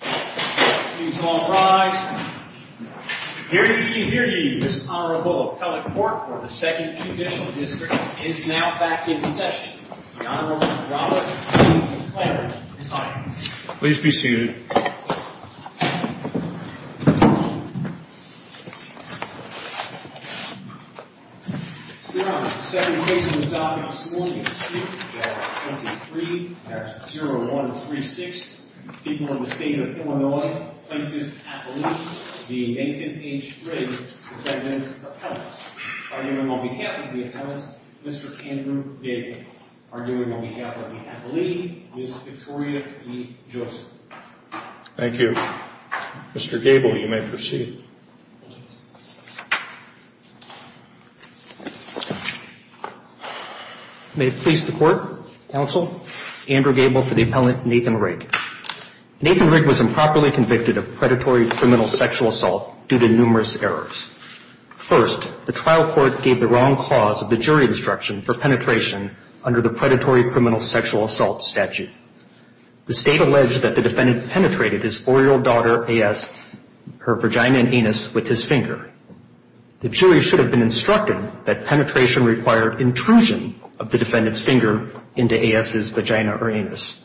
Please rise. Hear you, hear you. This Honorable Appellate Court for the 2nd Judicial District is now back in session. The Honorable Robert E. Flanagan. Please be seated. We are on the 2nd case of the docket this morning. We are on the 2nd case of the docket this morning. May it please the Court, Counsel, Andrew Gable for the Appellate, Nathan Rigg. Nathan Rigg was improperly convicted of predatory criminal sexual assault due to numerous errors. First, the trial court gave the wrong clause of the jury instruction for penetration under the predatory criminal sexual assault statute. The State alleged that the defendant penetrated his 4-year-old daughter, A.S., her vagina and anus with his finger. The jury should have been instructed that penetration required intrusion of the defendant's finger into A.S.'s vagina or anus.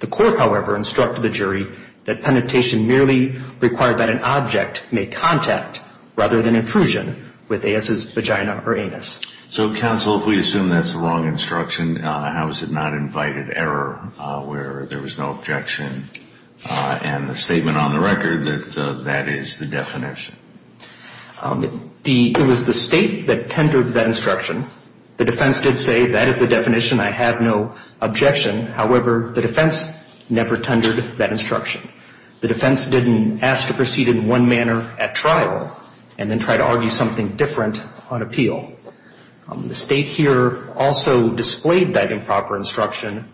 The court, however, instructed the jury that penetration merely required that an object make contact rather than intrusion with A.S.'s vagina or anus. So, Counsel, if we assume that's the wrong instruction, how is it not invited error where there was no objection? And the statement on the record that that is the definition? It was the State that tendered that instruction. The defense did say that is the definition, I have no objection. However, the defense never tendered that instruction. The defense didn't ask to proceed in one manner at trial and then try to argue something different on appeal. The State here also displayed that improper instruction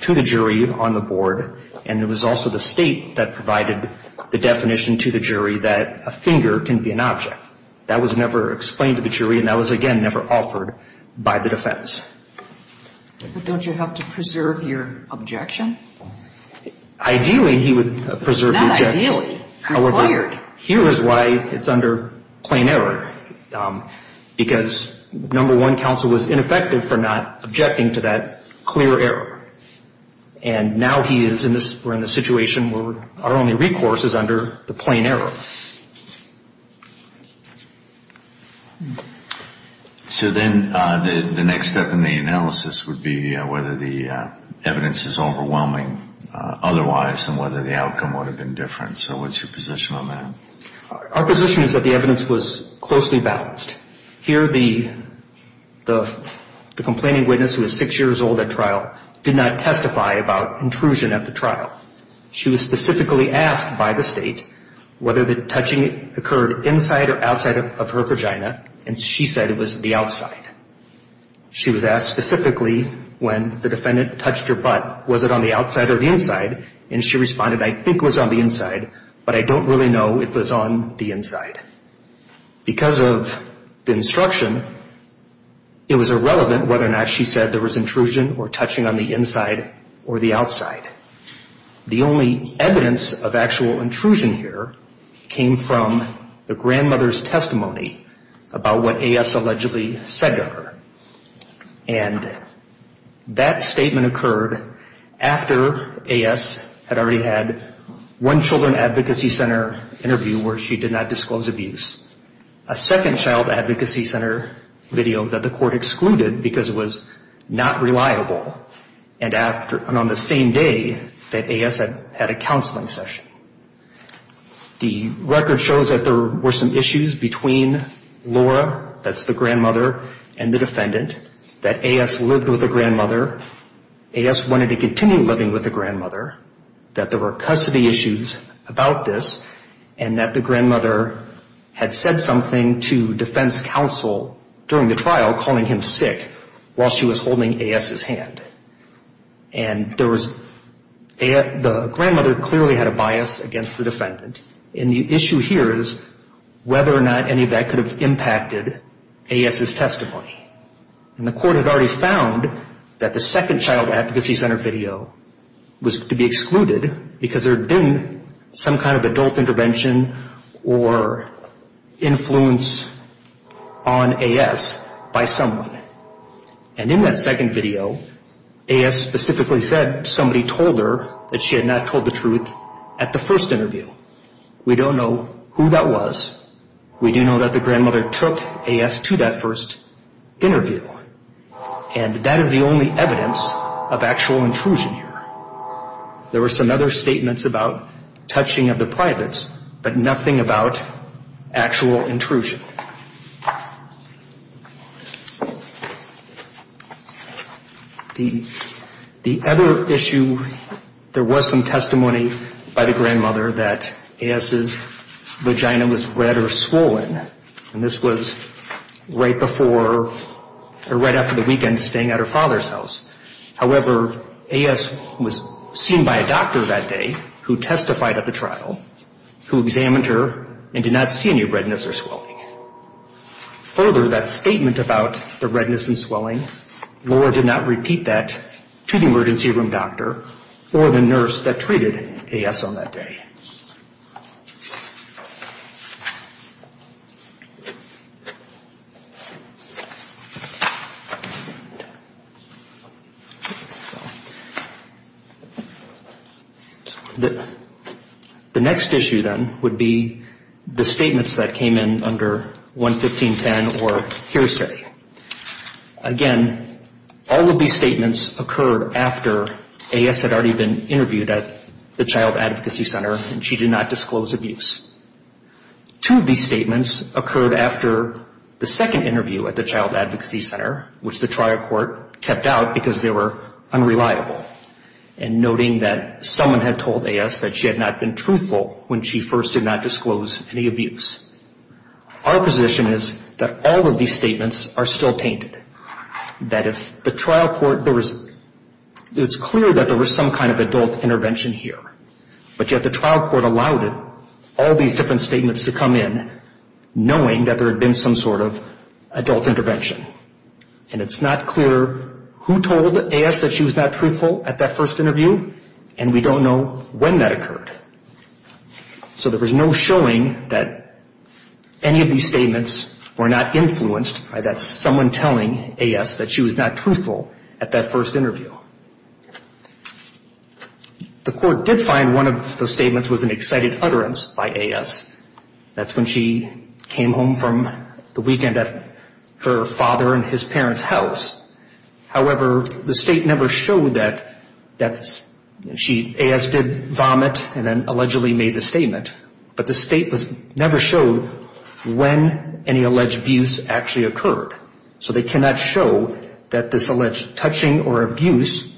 to the jury on the board, and it was also the State that provided the definition to the jury that a finger can be an object. That was never explained to the jury, and that was, again, never offered by the defense. But don't you have to preserve your objection? Ideally, he would preserve the objection. Required. However, here is why it's under plain error. Because, number one, Counsel was ineffective for not objecting to that clear error. And now he is in this situation where our only recourse is under the plain error. So then the next step in the analysis would be whether the evidence is overwhelming otherwise and whether the outcome would have been different. So what's your position on that? Our position is that the evidence was closely balanced. Here the complaining witness, who is six years old at trial, did not testify about intrusion at the trial. She was specifically asked by the State whether the evidence was overwhelming. She said that touching occurred inside or outside of her vagina, and she said it was the outside. She was asked specifically when the defendant touched her butt, was it on the outside or the inside? And she responded, I think it was on the inside, but I don't really know it was on the inside. Because of the instruction, it was irrelevant whether or not she said there was intrusion or touching on the inside or the outside. The only evidence of actual intrusion here came from the grandmother's testimony about what A.S. allegedly said to her. And that statement occurred after A.S. had already had one Children Advocacy Center interview where she did not disclose abuse. A second Child Advocacy Center video that the court excluded because it was not reliable. And on the same day that A.S. had a counseling session. The record shows that there were some issues between Laura, that's the grandmother, and the defendant. That A.S. lived with the grandmother. A.S. wanted to continue living with the grandmother. That there were custody issues about this. And that the grandmother had said something to defense counsel during the trial calling him sick while she was holding A.S.'s hand. And the grandmother clearly had a bias against the defendant. And the issue here is whether or not any of that could have impacted A.S.'s testimony. And the court had already found that the second Child Advocacy Center video was to be excluded because there had been some kind of adult intervention or influence on A.S. by someone. And in that second video, A.S. specifically said somebody told her that she had not told the truth at the first interview. We don't know who that was. We do know that the grandmother took A.S. to that first interview. And that is the only evidence of actual intrusion here. There were some other statements about touching of the privates, but nothing about actual intrusion. The other issue, there was some testimony by the grandmother that A.S.'s vagina was red or swollen. And this was right before or right after the weekend staying at her father's house. However, A.S. was seen by a doctor that day who testified at the trial who examined her and did not see any redness or swelling. Further, that statement about the redness and swelling, Laura did not repeat that to the emergency room doctor or the nurse that treated A.S. on that day. The next issue, then, would be the statements that came in under 115.10 or hearsay. Again, all of these statements occur after A.S. had already been interviewed at the child advocacy center and she did not disclose abuse. Two of these statements occur after A.S. had already been interviewed at the child advocacy center and she did not disclose abuse. One occurred after the second interview at the child advocacy center, which the trial court kept out because they were unreliable. And noting that someone had told A.S. that she had not been truthful when she first did not disclose any abuse. Our position is that all of these statements are still tainted. That if the trial court, it's clear that there was some kind of adult intervention here. But yet the trial court allowed all of these different statements to come in, knowing that there had been some sort of adult intervention. And it's not clear who told A.S. that she was not truthful at that first interview, and we don't know when that occurred. So there was no showing that any of these statements were not influenced by that someone telling A.S. that she was not truthful at that first interview. The court did find one of the statements was an excited utterance by A.S. That's when she came home from the weekend at her father and his parents' house. However, the state never showed that A.S. did vomit and then allegedly made the statement. But the state never showed when any alleged abuse actually occurred. So they cannot show that this alleged touching or abuse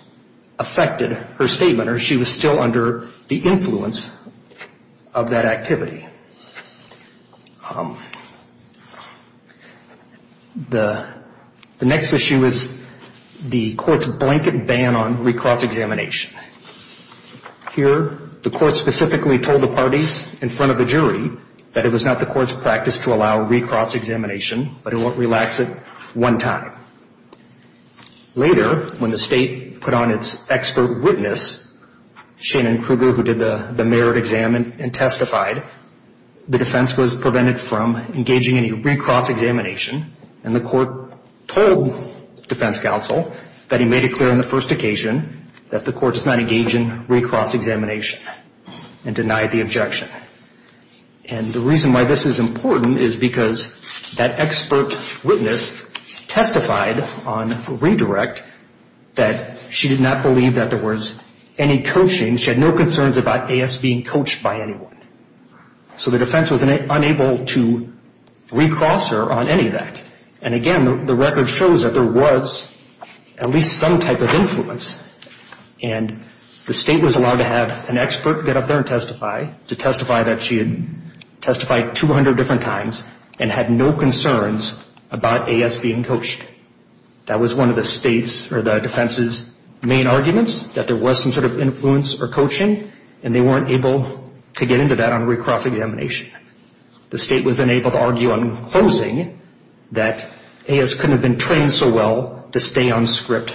affected her statement or she was still under the influence of that activity. The next issue is the court's blanket ban on recross examination. Here the court specifically told the parties in front of the jury that it was not the court's practice to allow recross examination. But it won't relax it one time. Later, when the state put on its expert witness, Shannon Kruger, who did the merit exam and testified, the defense was prevented from engaging in any recross examination. And the court told defense counsel that he made it clear on the first occasion that the court does not engage in recross examination and denied the objection. And the reason why this is important is because that expert witness testified on redirect that she did not believe that there was any coaching. She had no concerns about A.S. being coached by anyone. So the defense was unable to recross her on any of that. And again, the record shows that there was at least some type of influence. And the state was allowed to have an expert get up there and testify, to testify that she had testified 200 different times and had no concerns about A.S. being coached. That was one of the defense's main arguments, that there was some sort of influence or coaching, and they weren't able to get into that on recross examination. The state was unable to argue on closing that A.S. couldn't have been trained so well to stay on script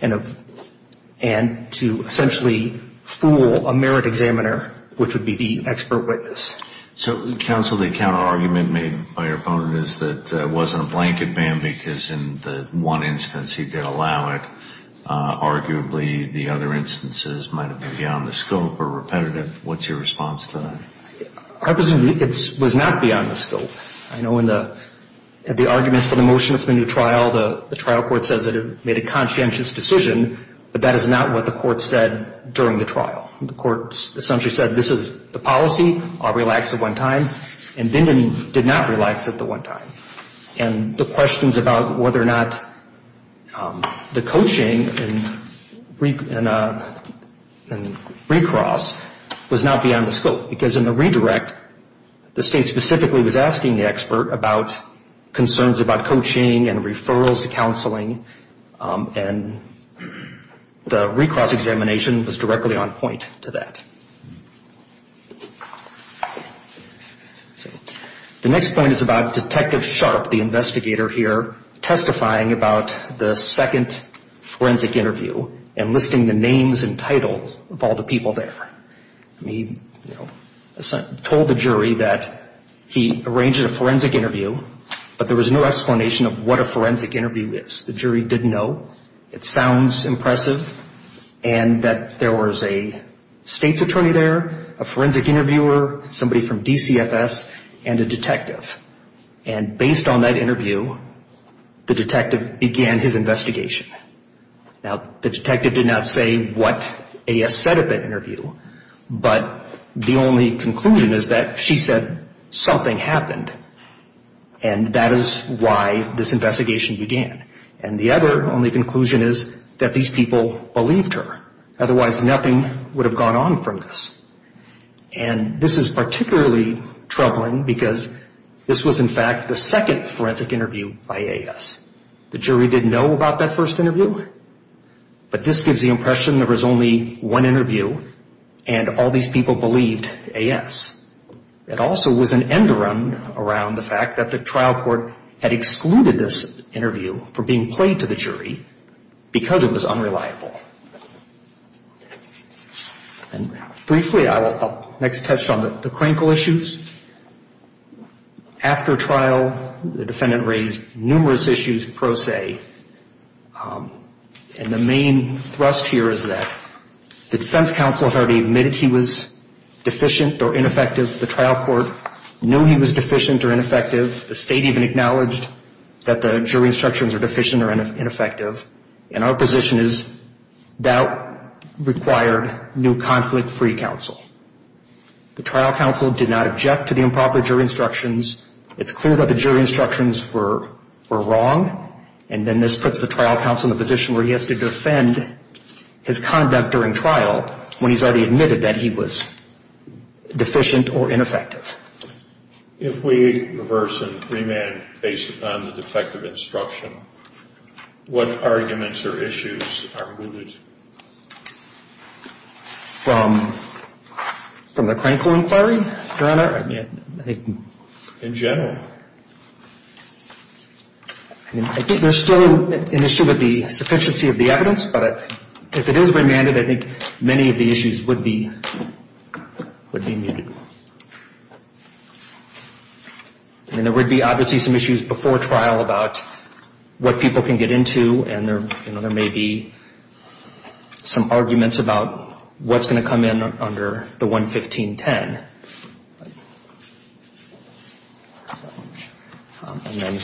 and to essentially fool a merit examiner, which would be the expert witness. So, counsel, the counterargument made by your opponent is that it wasn't a blanket ban because in the one instance he did allow it. Arguably, the other instances might have been beyond the scope or repetitive. What's your response to that? I presume it was not beyond the scope. I know in the arguments for the motion for the new trial, the trial court says that it made a conscientious decision, but that is not what the court said during the trial. The court essentially said this is the policy, I'll relax at one time, and Bindman did not relax at the one time. And the questions about whether or not the coaching and recross was not beyond the scope. Because in the redirect, the state specifically was asking the expert about concerns about coaching and referrals to counseling, and the recross examination was directly on point to that. The next point is about Detective Sharp, the investigator here, testifying about the second forensic interview and listing the names and titles of all the people there. He told the jury that he arranged a forensic interview, but there was no explanation of what a forensic interview is. The jury didn't know. It sounds impressive. And that there was a state's attorney there, a forensic interviewer, somebody from DCFS, and a detective. And based on that interview, the detective began his investigation. Now, the detective did not say what A.S. said at that interview, but the only conclusion is that she said something happened, and that is why this investigation began. And the other only conclusion is that these people believed her. Otherwise, nothing would have gone on from this. And this is particularly troubling because this was, in fact, the second forensic interview by A.S. The jury didn't know about that first interview, but this gives the impression there was only one interview, and all these people believed A.S. It also was an enderun around the fact that the trial court had excluded this interview from being played to the jury because it was unreliable. And briefly, I will next touch on the Crankle issues. After trial, the defendant raised numerous issues pro se. And the main thrust here is that the defense counsel had already admitted he was deficient or ineffective. The trial court knew he was deficient or ineffective. The state even acknowledged that the jury instructions were deficient or ineffective. And our position is that required new conflict-free counsel. The trial counsel did not object to the improper jury instructions. It's clear that the jury instructions were wrong, and then this puts the trial counsel in a position where he has to defend his conduct during trial when he's already admitted that he was deficient or ineffective. If we reverse and remand based upon the defective instruction, what arguments or issues are mooted? From the Crankle inquiry, Your Honor? In general. I think there's still an issue with the sufficiency of the evidence, but if it is remanded, I think many of the issues would be mooted. I mean, there would be obviously some issues before trial about what people can get into, and there may be some arguments about what's going to come in under the 11510. And then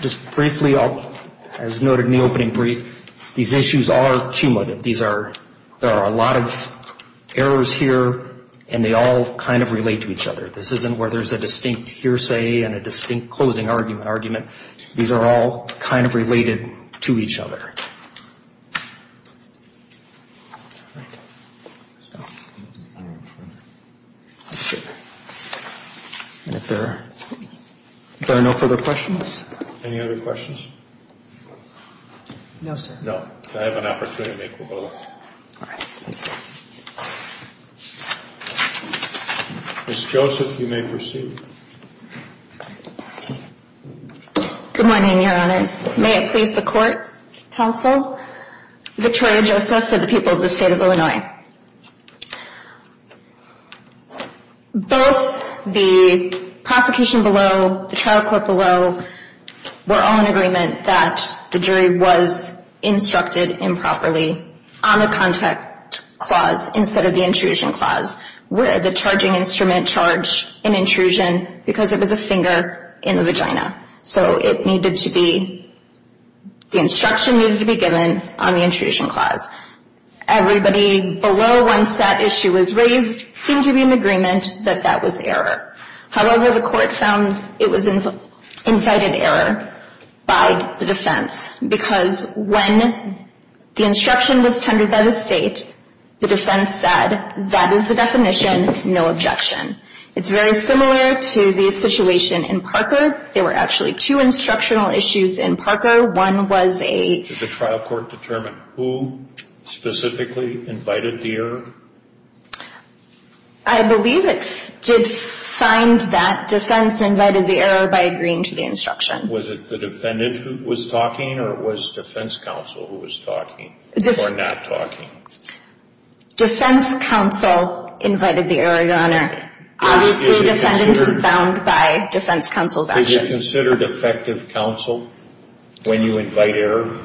just briefly, as noted in the opening brief, these issues are cumulative. There are a lot of errors here, and they all kind of relate to each other. This isn't where there's a distinct hearsay and a distinct closing argument. These are all kind of related to each other. All right. And if there are no further questions? Any other questions? No, sir. No. I have an opportunity to make a roll call. All right. Thank you. Ms. Joseph, you may proceed. Good morning, Your Honors. May it please the court, counsel, Victoria Joseph for the people of the State of Illinois. Both the prosecution below, the trial court below, were all in agreement that the jury was instructed improperly on the contact clause instead of the intrusion clause, where the charging instrument charged an intrusion because it was a finger in the vagina. So it needed to be, the instruction needed to be given on the intrusion clause. Everybody below, once that issue was raised, seemed to be in agreement that that was error. However, the court found it was invited error by the defense because when the instruction was tendered by the state, the defense said, that is the definition, no objection. It's very similar to the situation in Parker. There were actually two instructional issues in Parker. One was a... Did the trial court determine who specifically invited the error? I believe it did find that defense invited the error by agreeing to the instruction. Was it the defendant who was talking or was defense counsel who was talking or not talking? Defense counsel invited the error, Your Honor. Obviously, defendant is bound by defense counsel's actions. Is it considered effective counsel when you invite error?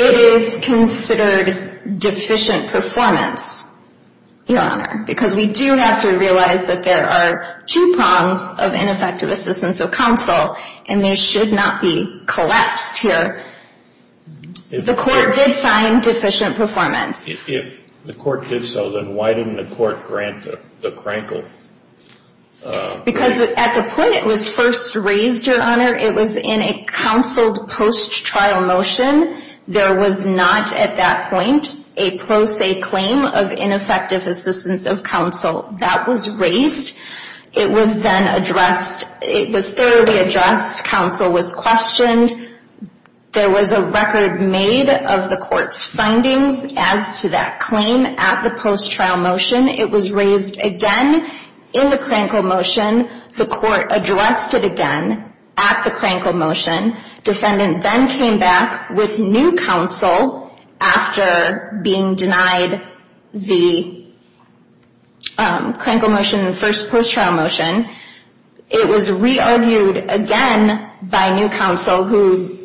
It is considered deficient performance, Your Honor, because we do have to realize that there are two prongs of ineffective assistance of counsel, and they should not be collapsed here. The court did find deficient performance. If the court did so, then why didn't the court grant the crankle? Because at the point it was first raised, Your Honor, it was in a counseled post-trial motion. There was not at that point a pro se claim of ineffective assistance of counsel. That was raised. It was then addressed. It was thoroughly addressed. Counsel was questioned. There was a record made of the court's findings as to that claim at the post-trial motion. It was raised again in the crankle motion. The court addressed it again at the crankle motion. Defendant then came back with new counsel after being denied the crankle motion in the first post-trial motion. It was re-argued again by new counsel who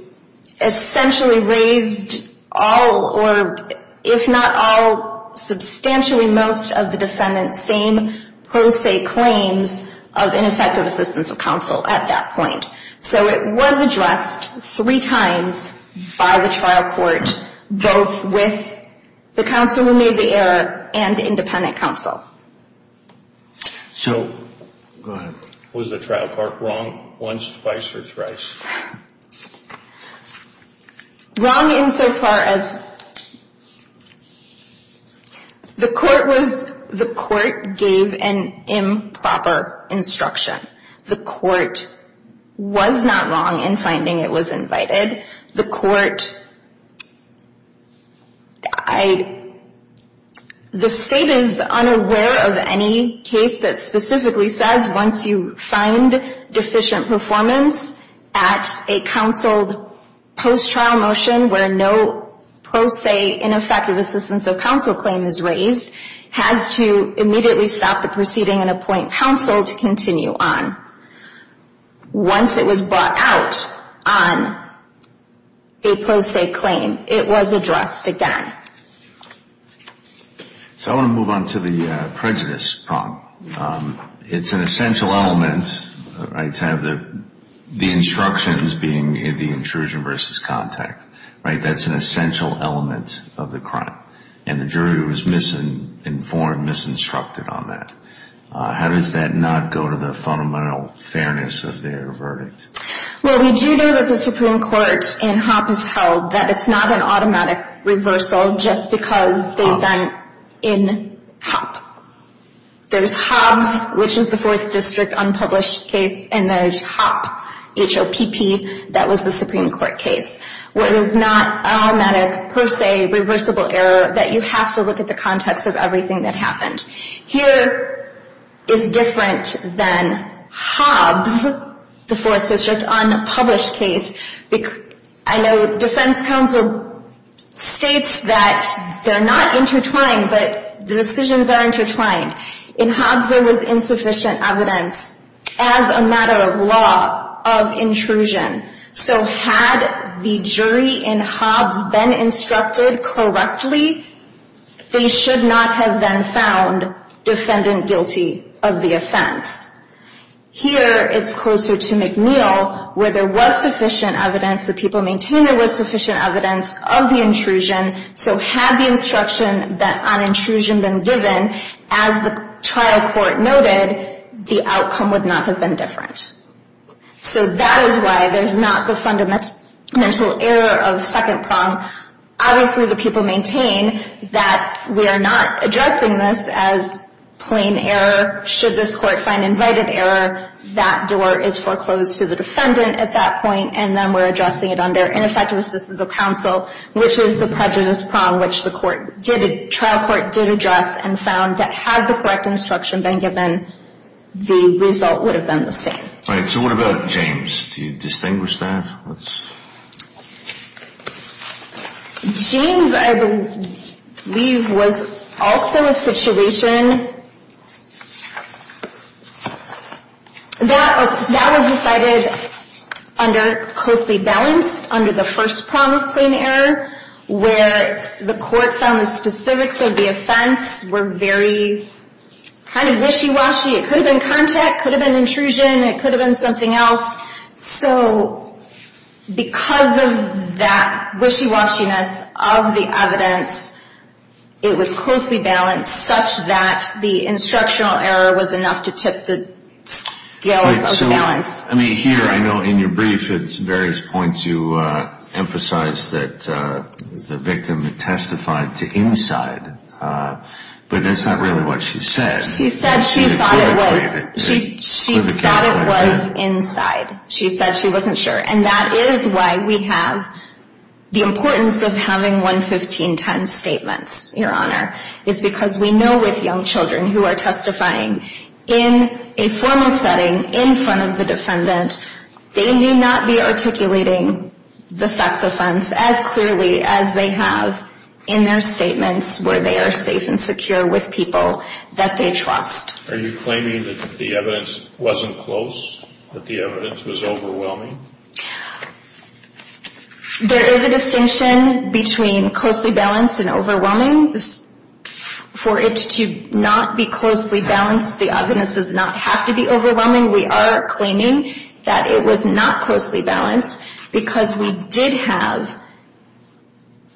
essentially raised all or if not all, substantially most of the defendant's same pro se claims of ineffective assistance of counsel at that point. So it was addressed three times by the trial court, both with the counsel who made the error and independent counsel. So, go ahead. Was the trial court wrong once, twice, or thrice? Wrong insofar as the court gave an improper instruction. The court was not wrong in finding it was invited. The court, I, the state is unaware of any case that specifically says once you find deficient performance at a counseled post-trial motion where no pro se ineffective assistance of counsel claim is raised has to immediately stop the proceeding and appoint counsel to continue on. Once it was brought out on a pro se claim, it was addressed again. So I want to move on to the prejudice problem. It's an essential element, right, to have the instructions being the intrusion versus contact, right? That's an essential element of the crime. And the jury was misinformed, misinstructed on that. How does that not go to the fundamental fairness of their verdict? Well, we do know that the Supreme Court in Hopp has held that it's not an automatic reversal just because they've been in Hopp. There's Hobbs, which is the Fourth District unpublished case, and there's Hopp, H-O-P-P, that was the Supreme Court case. What is not automatic, per se, reversible error, that you have to look at the context of everything that happened. Here is different than Hobbs, the Fourth District unpublished case. I know defense counsel states that they're not intertwined, but the decisions are intertwined. In Hobbs, there was insufficient evidence as a matter of law of intrusion. So had the jury in Hobbs been instructed correctly, they should not have been found defendant guilty of the offense. Here, it's closer to McNeil, where there was sufficient evidence, the people maintain there was sufficient evidence of the intrusion. So had the instruction on intrusion been given, as the trial court noted, the outcome would not have been different. So that is why there's not the fundamental error of second prong. Obviously, the people maintain that we are not addressing this as plain error. Should this court find invited error, that door is foreclosed to the defendant at that point, and then we're addressing it under ineffective assistance of counsel, which is the prejudice prong, which the trial court did address and found that had the correct instruction been given, the result would have been the same. So what about James? Do you distinguish that? James, I believe, was also a situation that was decided under closely balanced, under the first prong of plain error, where the court found the specifics of the offense were very kind of wishy-washy. It could have been contact, it could have been intrusion, it could have been something else. So because of that wishy-washiness of the evidence, it was closely balanced, such that the instructional error was enough to tip the balance. I mean, here, I know in your brief at various points you emphasize that the victim testified to inside, but that's not really what she said. She said she thought it was inside. She said she wasn't sure. And that is why we have the importance of having 11510 statements, Your Honor, is because we know with young children who are testifying in a formal setting in front of the defendant, they may not be articulating the sex offense as clearly as they have in their statements where they are safe and secure with people that they trust. Are you claiming that the evidence wasn't close, that the evidence was overwhelming? There is a distinction between closely balanced and overwhelming. For it to not be closely balanced, the evidence does not have to be overwhelming. We are claiming that it was not closely balanced because we did have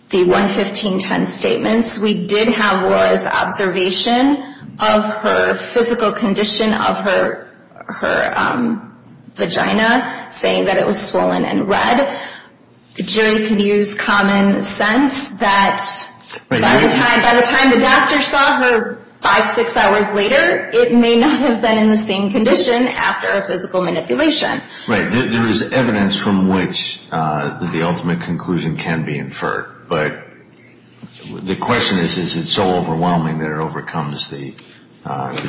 the 11510 statements. We did have Laura's observation of her physical condition of her vagina, saying that it was swollen and red. The jury could use common sense that by the time the doctor saw her five, six hours later, it may not have been in the same condition after a physical manipulation. Right. There is evidence from which the ultimate conclusion can be inferred. But the question is, is it so overwhelming that it overcomes the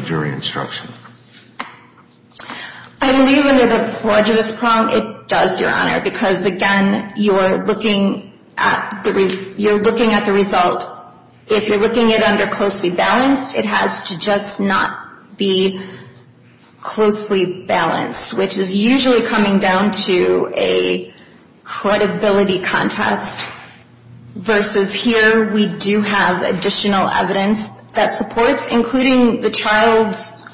jury instruction? I believe under the prejudice prong, it does, Your Honor, because, again, you are looking at the result. If you are looking at it under closely balanced, it has to just not be closely balanced, which is usually coming down to a credibility contest, versus here we do have additional evidence that supports, including the child's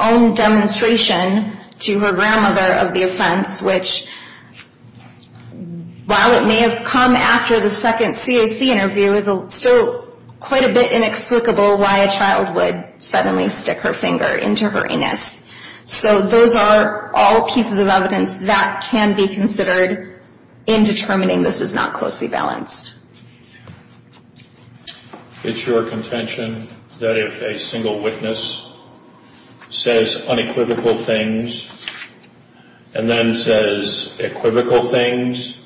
own demonstration to her grandmother of the offense, which, while it may have come after the second CAC interview, is still quite a bit inexplicable why a child would suddenly stick her finger into her anus. So those are all pieces of evidence that can be considered in determining this is not closely balanced. It's your contention that if a single witness says unequivocal things, and then says equivocal things,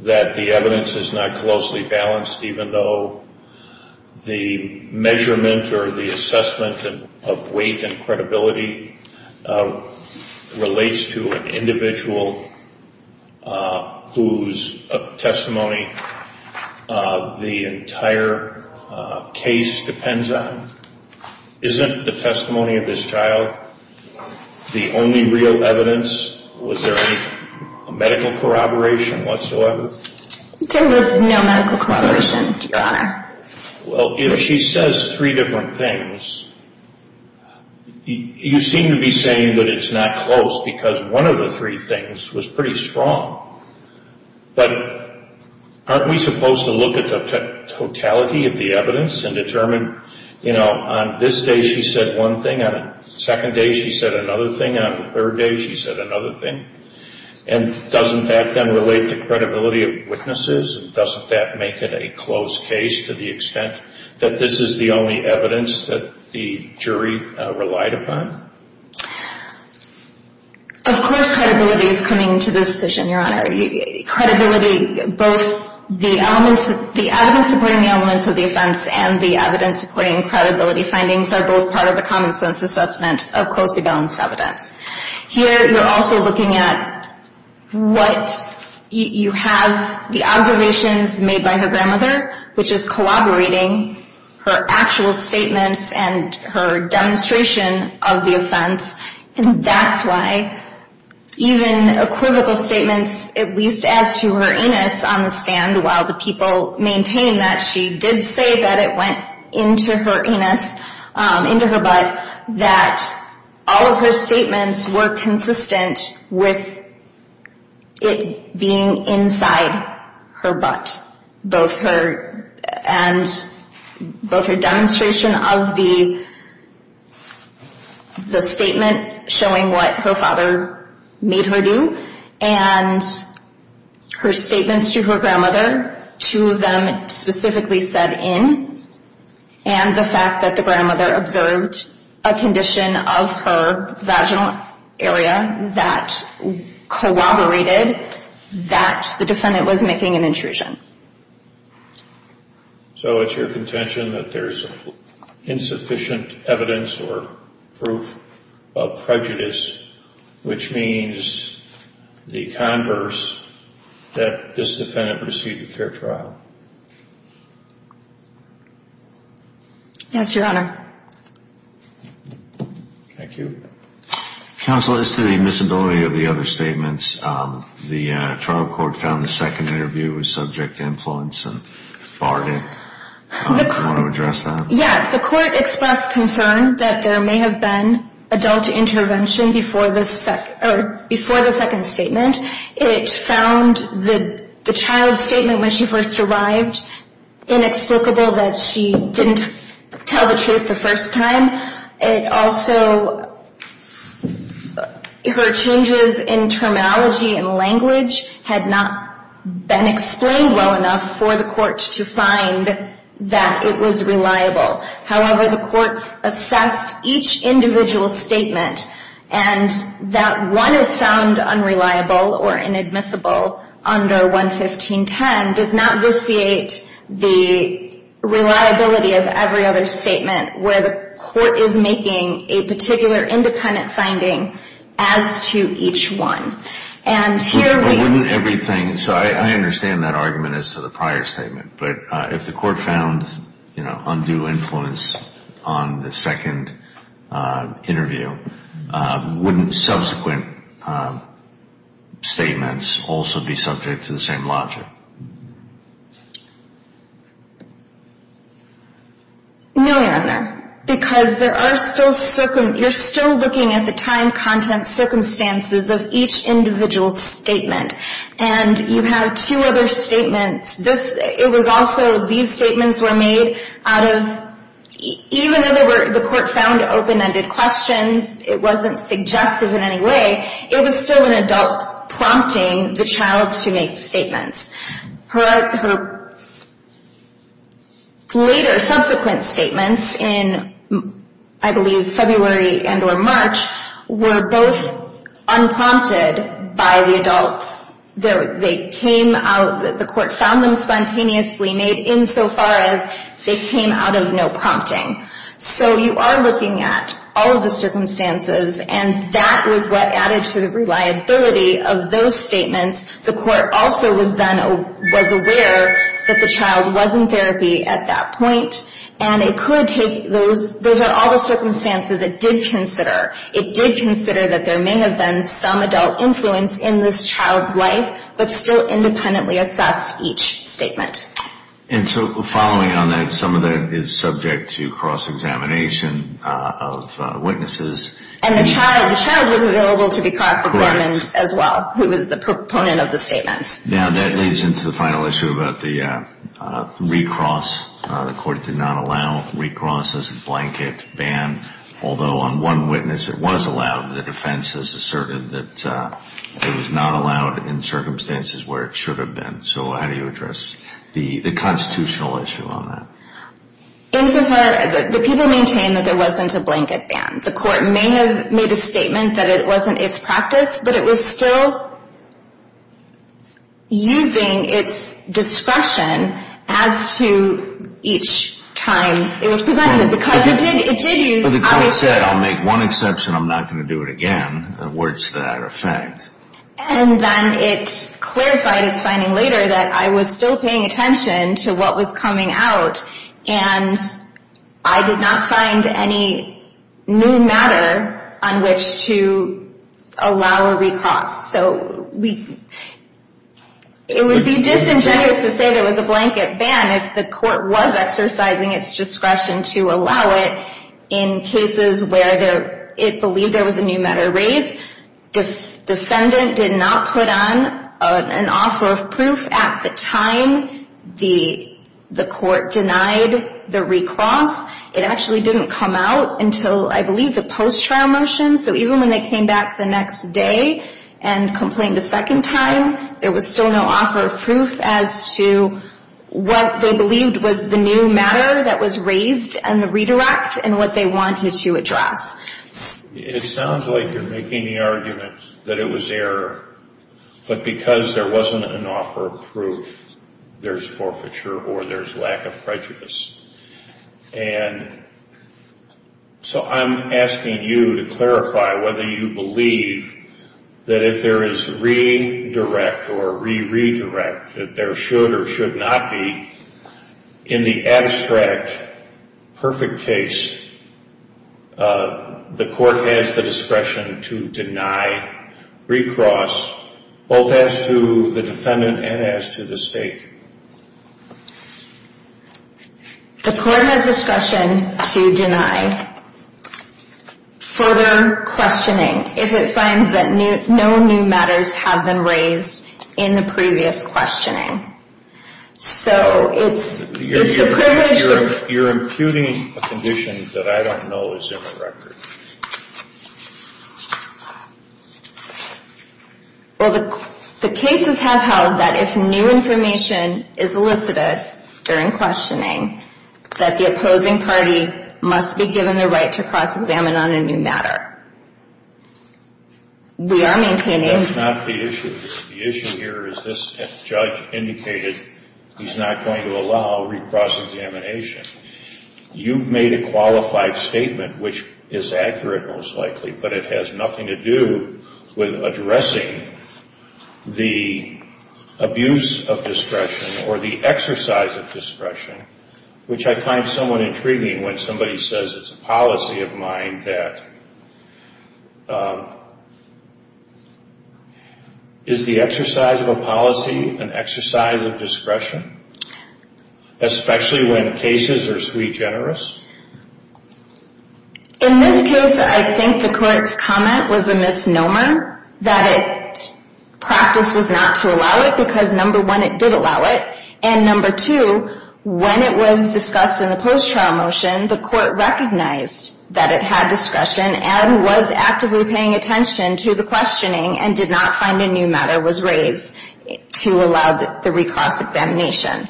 that the evidence is not closely balanced, even though the measurement or the assessment of weight and credibility relates to an individual whose testimony the entire case depends on? Isn't the testimony of this child the only real evidence? Was there any medical corroboration whatsoever? There was no medical corroboration, Your Honor. Well, if she says three different things, you seem to be saying that it's not close, because one of the three things was pretty strong. But aren't we supposed to look at the totality of the evidence and determine, you know, on this day she said one thing, on the second day she said another thing, and on the third day she said another thing? And doesn't that then relate to credibility of witnesses, and doesn't that make it a closed case to the extent that this is the only evidence that the jury relied upon? Of course credibility is coming to this decision, Your Honor. Credibility, both the evidence supporting the elements of the offense and the evidence supporting credibility findings are both part of a common sense assessment of closely balanced evidence. Here you're also looking at what you have, the observations made by her grandmother, which is collaborating her actual statements and her demonstration of the offense, and that's why even equivocal statements, at least as to her anus on the stand, while the people maintain that she did say that it went into her anus, into her butt, that all of her statements were consistent with it being inside her butt, both her demonstration of the statement showing what her father made her do and her statements to her grandmother, two of them specifically said in, and the fact that the grandmother observed a condition of her vaginal area that corroborated that the defendant was making an intrusion. So it's your contention that there's insufficient evidence or proof of prejudice, which means the converse, that this defendant received a fair trial. Yes, Your Honor. Thank you. Counsel, as to the miscibility of the other statements, the trial court found the second interview was subject to influence and barred it. Do you want to address that? Yes, the court expressed concern that there may have been adult intervention before the second statement. It found the child's statement when she first arrived inexplicable that she didn't tell the truth the first time. It also, her changes in terminology and language had not been explained well enough for the court to find that it was reliable. However, the court assessed each individual statement and that one is found unreliable or inadmissible under 11510 does not vitiate the reliability of every other statement where the court is making a particular independent finding as to each one. So I understand that argument as to the prior statement, but if the court found undue influence on the second interview, wouldn't subsequent statements also be subject to the same logic? No, Your Honor, because you're still looking at the time, content, and circumstances of each individual statement. And you have two other statements. It was also these statements were made out of, even though the court found open-ended questions, it wasn't suggestive in any way, it was still an adult prompting the child to make statements. Her later subsequent statements in, I believe, February and or March were both unprompted by the adults. The court found them spontaneously made insofar as they came out of no prompting. So you are looking at all of the circumstances and that was what added to the reliability of those statements. The court also was aware that the child was in therapy at that point and it could take, those are all the circumstances it did consider. It did consider that there may have been some adult influence in this child's life, but still independently assessed each statement. And so following on that, some of that is subject to cross-examination of witnesses. And the child was available to be cross-examined as well, who was the proponent of the statements. Now that leads into the final issue about the recross. The court did not allow recross as a blanket ban, although on one witness it was allowed. The defense has asserted that it was not allowed in circumstances where it should have been. So how do you address the constitutional issue on that? Insofar, the people maintain that there wasn't a blanket ban. The court may have made a statement that it wasn't its practice, but it was still using its discretion as to each time it was presented. Because it did use, obviously. But the court said, I'll make one exception, I'm not going to do it again. Words to that effect. And then it clarified its finding later that I was still paying attention to what was coming out and I did not find any new matter on which to allow a recross. So it would be disingenuous to say there was a blanket ban if the court was exercising its discretion to allow it in cases where it believed there was a new matter raised. The defendant did not put on an offer of proof at the time. The court denied the recross. It actually didn't come out until, I believe, the post-trial motion. So even when they came back the next day and complained a second time, there was still no offer of proof as to what they believed was the new matter that was raised and the redirect and what they wanted to address. It sounds like you're making the argument that it was error. But because there wasn't an offer of proof, there's forfeiture or there's lack of prejudice. And so I'm asking you to clarify whether you believe that if there is redirect or re-redirect, that there should or should not be in the abstract perfect case, the court has the discretion to deny recross both as to the defendant and as to the state. The court has discretion to deny further questioning if it finds that no new matters have been raised in the previous questioning. So it's the privilege that… You're imputing a condition that I don't know is in the record. Well, the cases have held that if new information is elicited during questioning, that the opposing party must be given the right to cross-examine on a new matter. We are maintaining… That's not the issue. The issue here is this judge indicated he's not going to allow recross examination. You've made a qualified statement, which is accurate most likely, but it has nothing to do with addressing the abuse of discretion or the exercise of discretion, which I find somewhat intriguing when somebody says it's a policy of mine that… Is the exercise of a policy an exercise of discretion, especially when cases are sui generis? In this case, I think the court's comment was a misnomer, that its practice was not to allow it because, number one, it did allow it, and, number two, when it was discussed in the post-trial motion, the court recognized that it had discretion and was actively paying attention to the questioning and did not find a new matter was raised to allow the recross examination.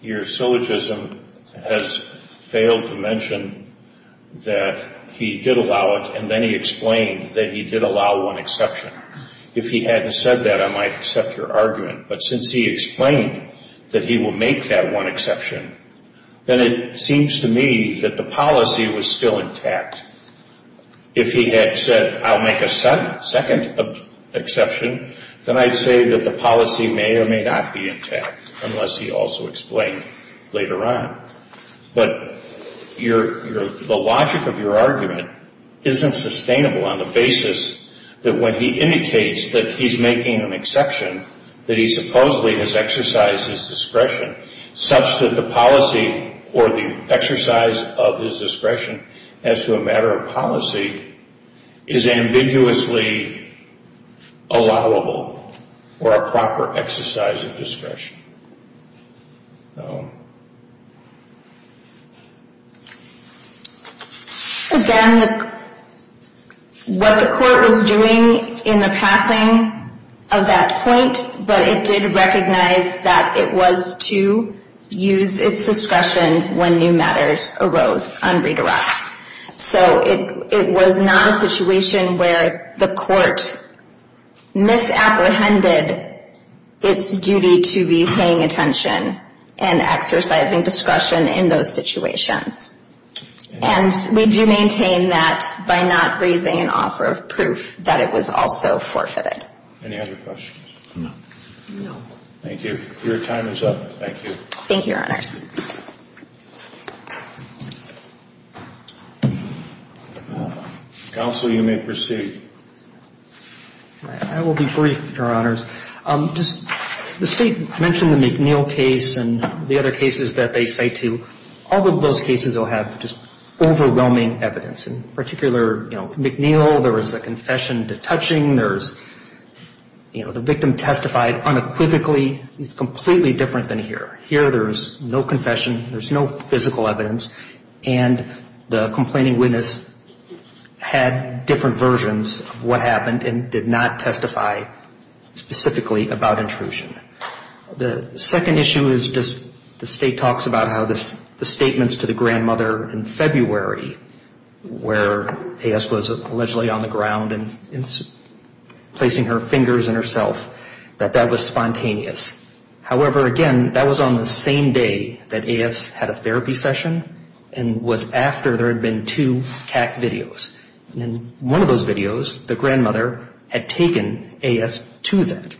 Your syllogism has failed to mention that he did allow it, and then he explained that he did allow one exception. If he hadn't said that, I might accept your argument, but since he explained that he will make that one exception, then it seems to me that the policy was still intact. If he had said, I'll make a second exception, then I'd say that the policy may or may not be intact, unless he also explained later on. But the logic of your argument isn't sustainable on the basis that when he indicates that he's making an exception, that he supposedly has exercised his discretion, such that the policy or the exercise of his discretion as to a matter of policy is ambiguously allowable or a proper exercise of discretion. Again, what the court was doing in the passing of that point, but it did recognize that it was to use its discretion when new matters arose unredirected. So it was not a situation where the court misapprehended its duty to be paying attention and exercising discretion in those situations. And we do maintain that by not raising an offer of proof that it was also forfeited. Any other questions? No. No. Thank you. Your time is up. Thank you. Thank you, Your Honors. Counsel, you may proceed. I will be brief, Your Honors. Just the State mentioned the McNeil case and the other cases that they cite to. All of those cases will have just overwhelming evidence. In particular, you know, McNeil, there was a confession detaching. There's, you know, the victim testified unequivocally. It's completely different than here. Here there's no confession. There's no physical evidence. And the complaining witness had different versions of what happened and did not testify specifically about intrusion. The second issue is just the State talks about how the statements to the grandmother in February where A.S. was allegedly on the ground and placing her fingers in herself, that that was spontaneous. However, again, that was on the same day that A.S. had a therapy session and was after there had been two CAC videos. And in one of those videos, the grandmother had taken A.S. to that.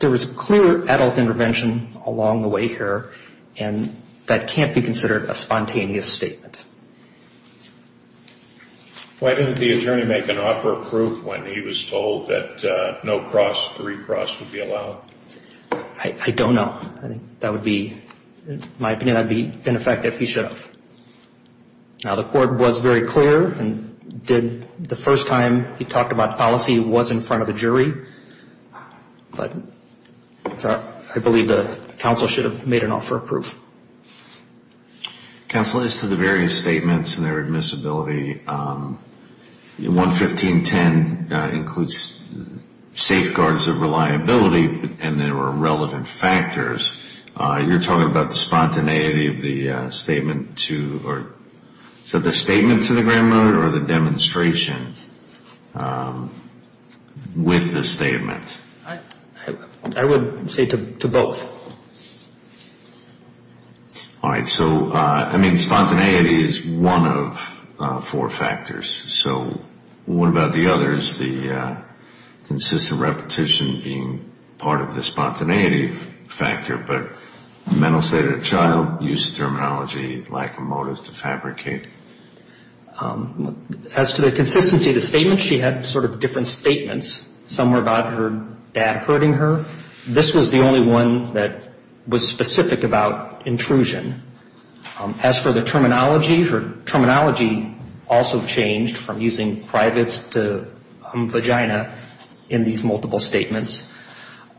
There was clear adult intervention along the way here, and that can't be considered a spontaneous statement. Why didn't the attorney make an offer of proof when he was told that no recross would be allowed? I don't know. I think that would be, in my opinion, that would be ineffective. He should have. Now, the court was very clear and did the first time he talked about policy was in front of the jury. But I believe the counsel should have made an offer of proof. Counsel, as to the various statements and their admissibility, 115.10 includes safeguards of reliability and there were relevant factors. You're talking about the spontaneity of the statement to the grandmother or the demonstration with the statement? I would say to both. All right. So, I mean, spontaneity is one of four factors. So what about the others, the consistent repetition being part of the spontaneity factor, but mental state of the child, use of terminology, lack of motives to fabricate? As to the consistency of the statement, she had sort of different statements. Some were about her dad hurting her. This was the only one that was specific about intrusion. As for the terminology, her terminology also changed from using privates to vagina in these multiple statements.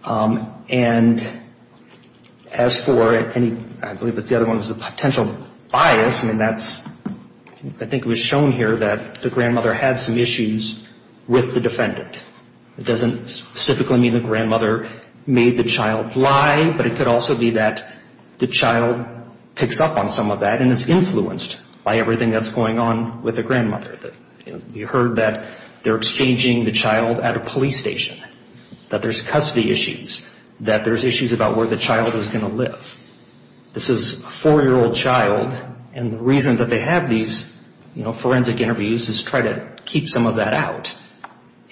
And as for any, I believe the other one was a potential bias, I mean, that's, I think it was shown here that the grandmother had some issues with the defendant. It doesn't specifically mean the grandmother made the child lie, but it could also be that the child picks up on some of that and is influenced by everything that's going on with the grandmother. You heard that they're exchanging the child at a police station, that there's custody issues, that there's issues about where the child is going to live. This is a four-year-old child, and the reason that they have these forensic interviews is to try to keep some of that out.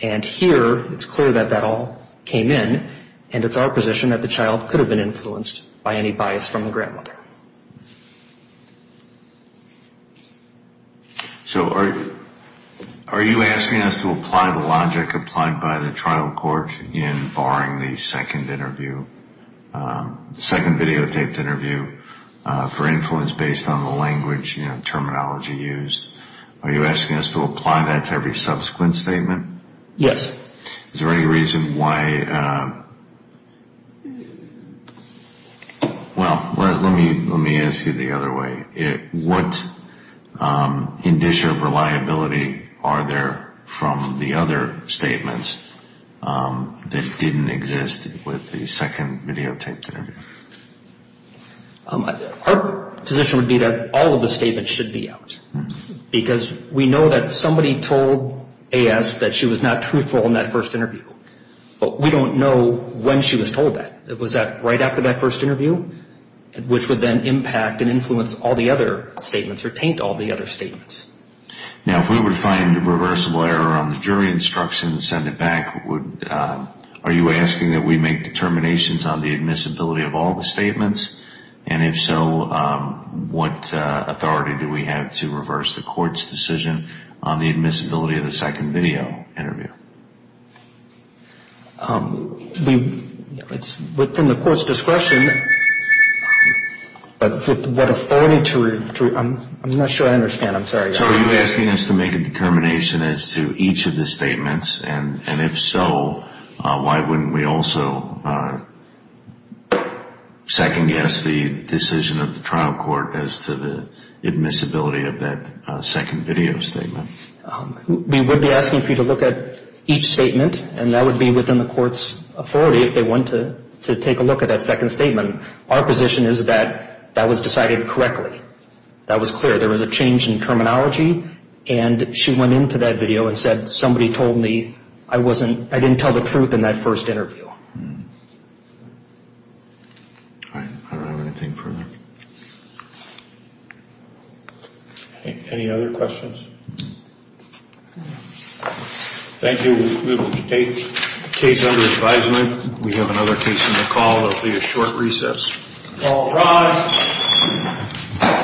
And here it's clear that that all came in, and it's our position that the child could have been influenced by any bias from the grandmother. So are you asking us to apply the logic applied by the trial court in barring the second interview, the second videotaped interview, for influence based on the language and terminology used? Are you asking us to apply that to every subsequent statement? Yes. Is there any reason why, well, let me ask you the other way. What indicia of reliability are there from the other statements that didn't exist with the second videotaped interview? Our position would be that all of the statements should be out, because we know that somebody told A.S. that she was not truthful in that first interview, but we don't know when she was told that. Was that right after that first interview, which would then impact and influence all the other statements or taint all the other statements? Now, if we were to find a reversible error on the jury instruction and send it back, are you asking that we make determinations on the admissibility of all the statements? And if so, what authority do we have to reverse the court's decision on the admissibility of the second video interview? Within the court's discretion, what authority to, I'm not sure I understand, I'm sorry. So are you asking us to make a determination as to each of the statements? And if so, why wouldn't we also second guess the decision of the trial court as to the admissibility of that second video statement? We would be asking for you to look at each statement, and that would be within the court's authority if they want to take a look at that second statement. Our position is that that was decided correctly. That was clear. There was a change in terminology, and she went into that video and said, somebody told me I didn't tell the truth in that first interview. All right. I don't have anything further. Any other questions? Thank you. Case under advisement. We have another case on the call. It will be a short recess. All rise.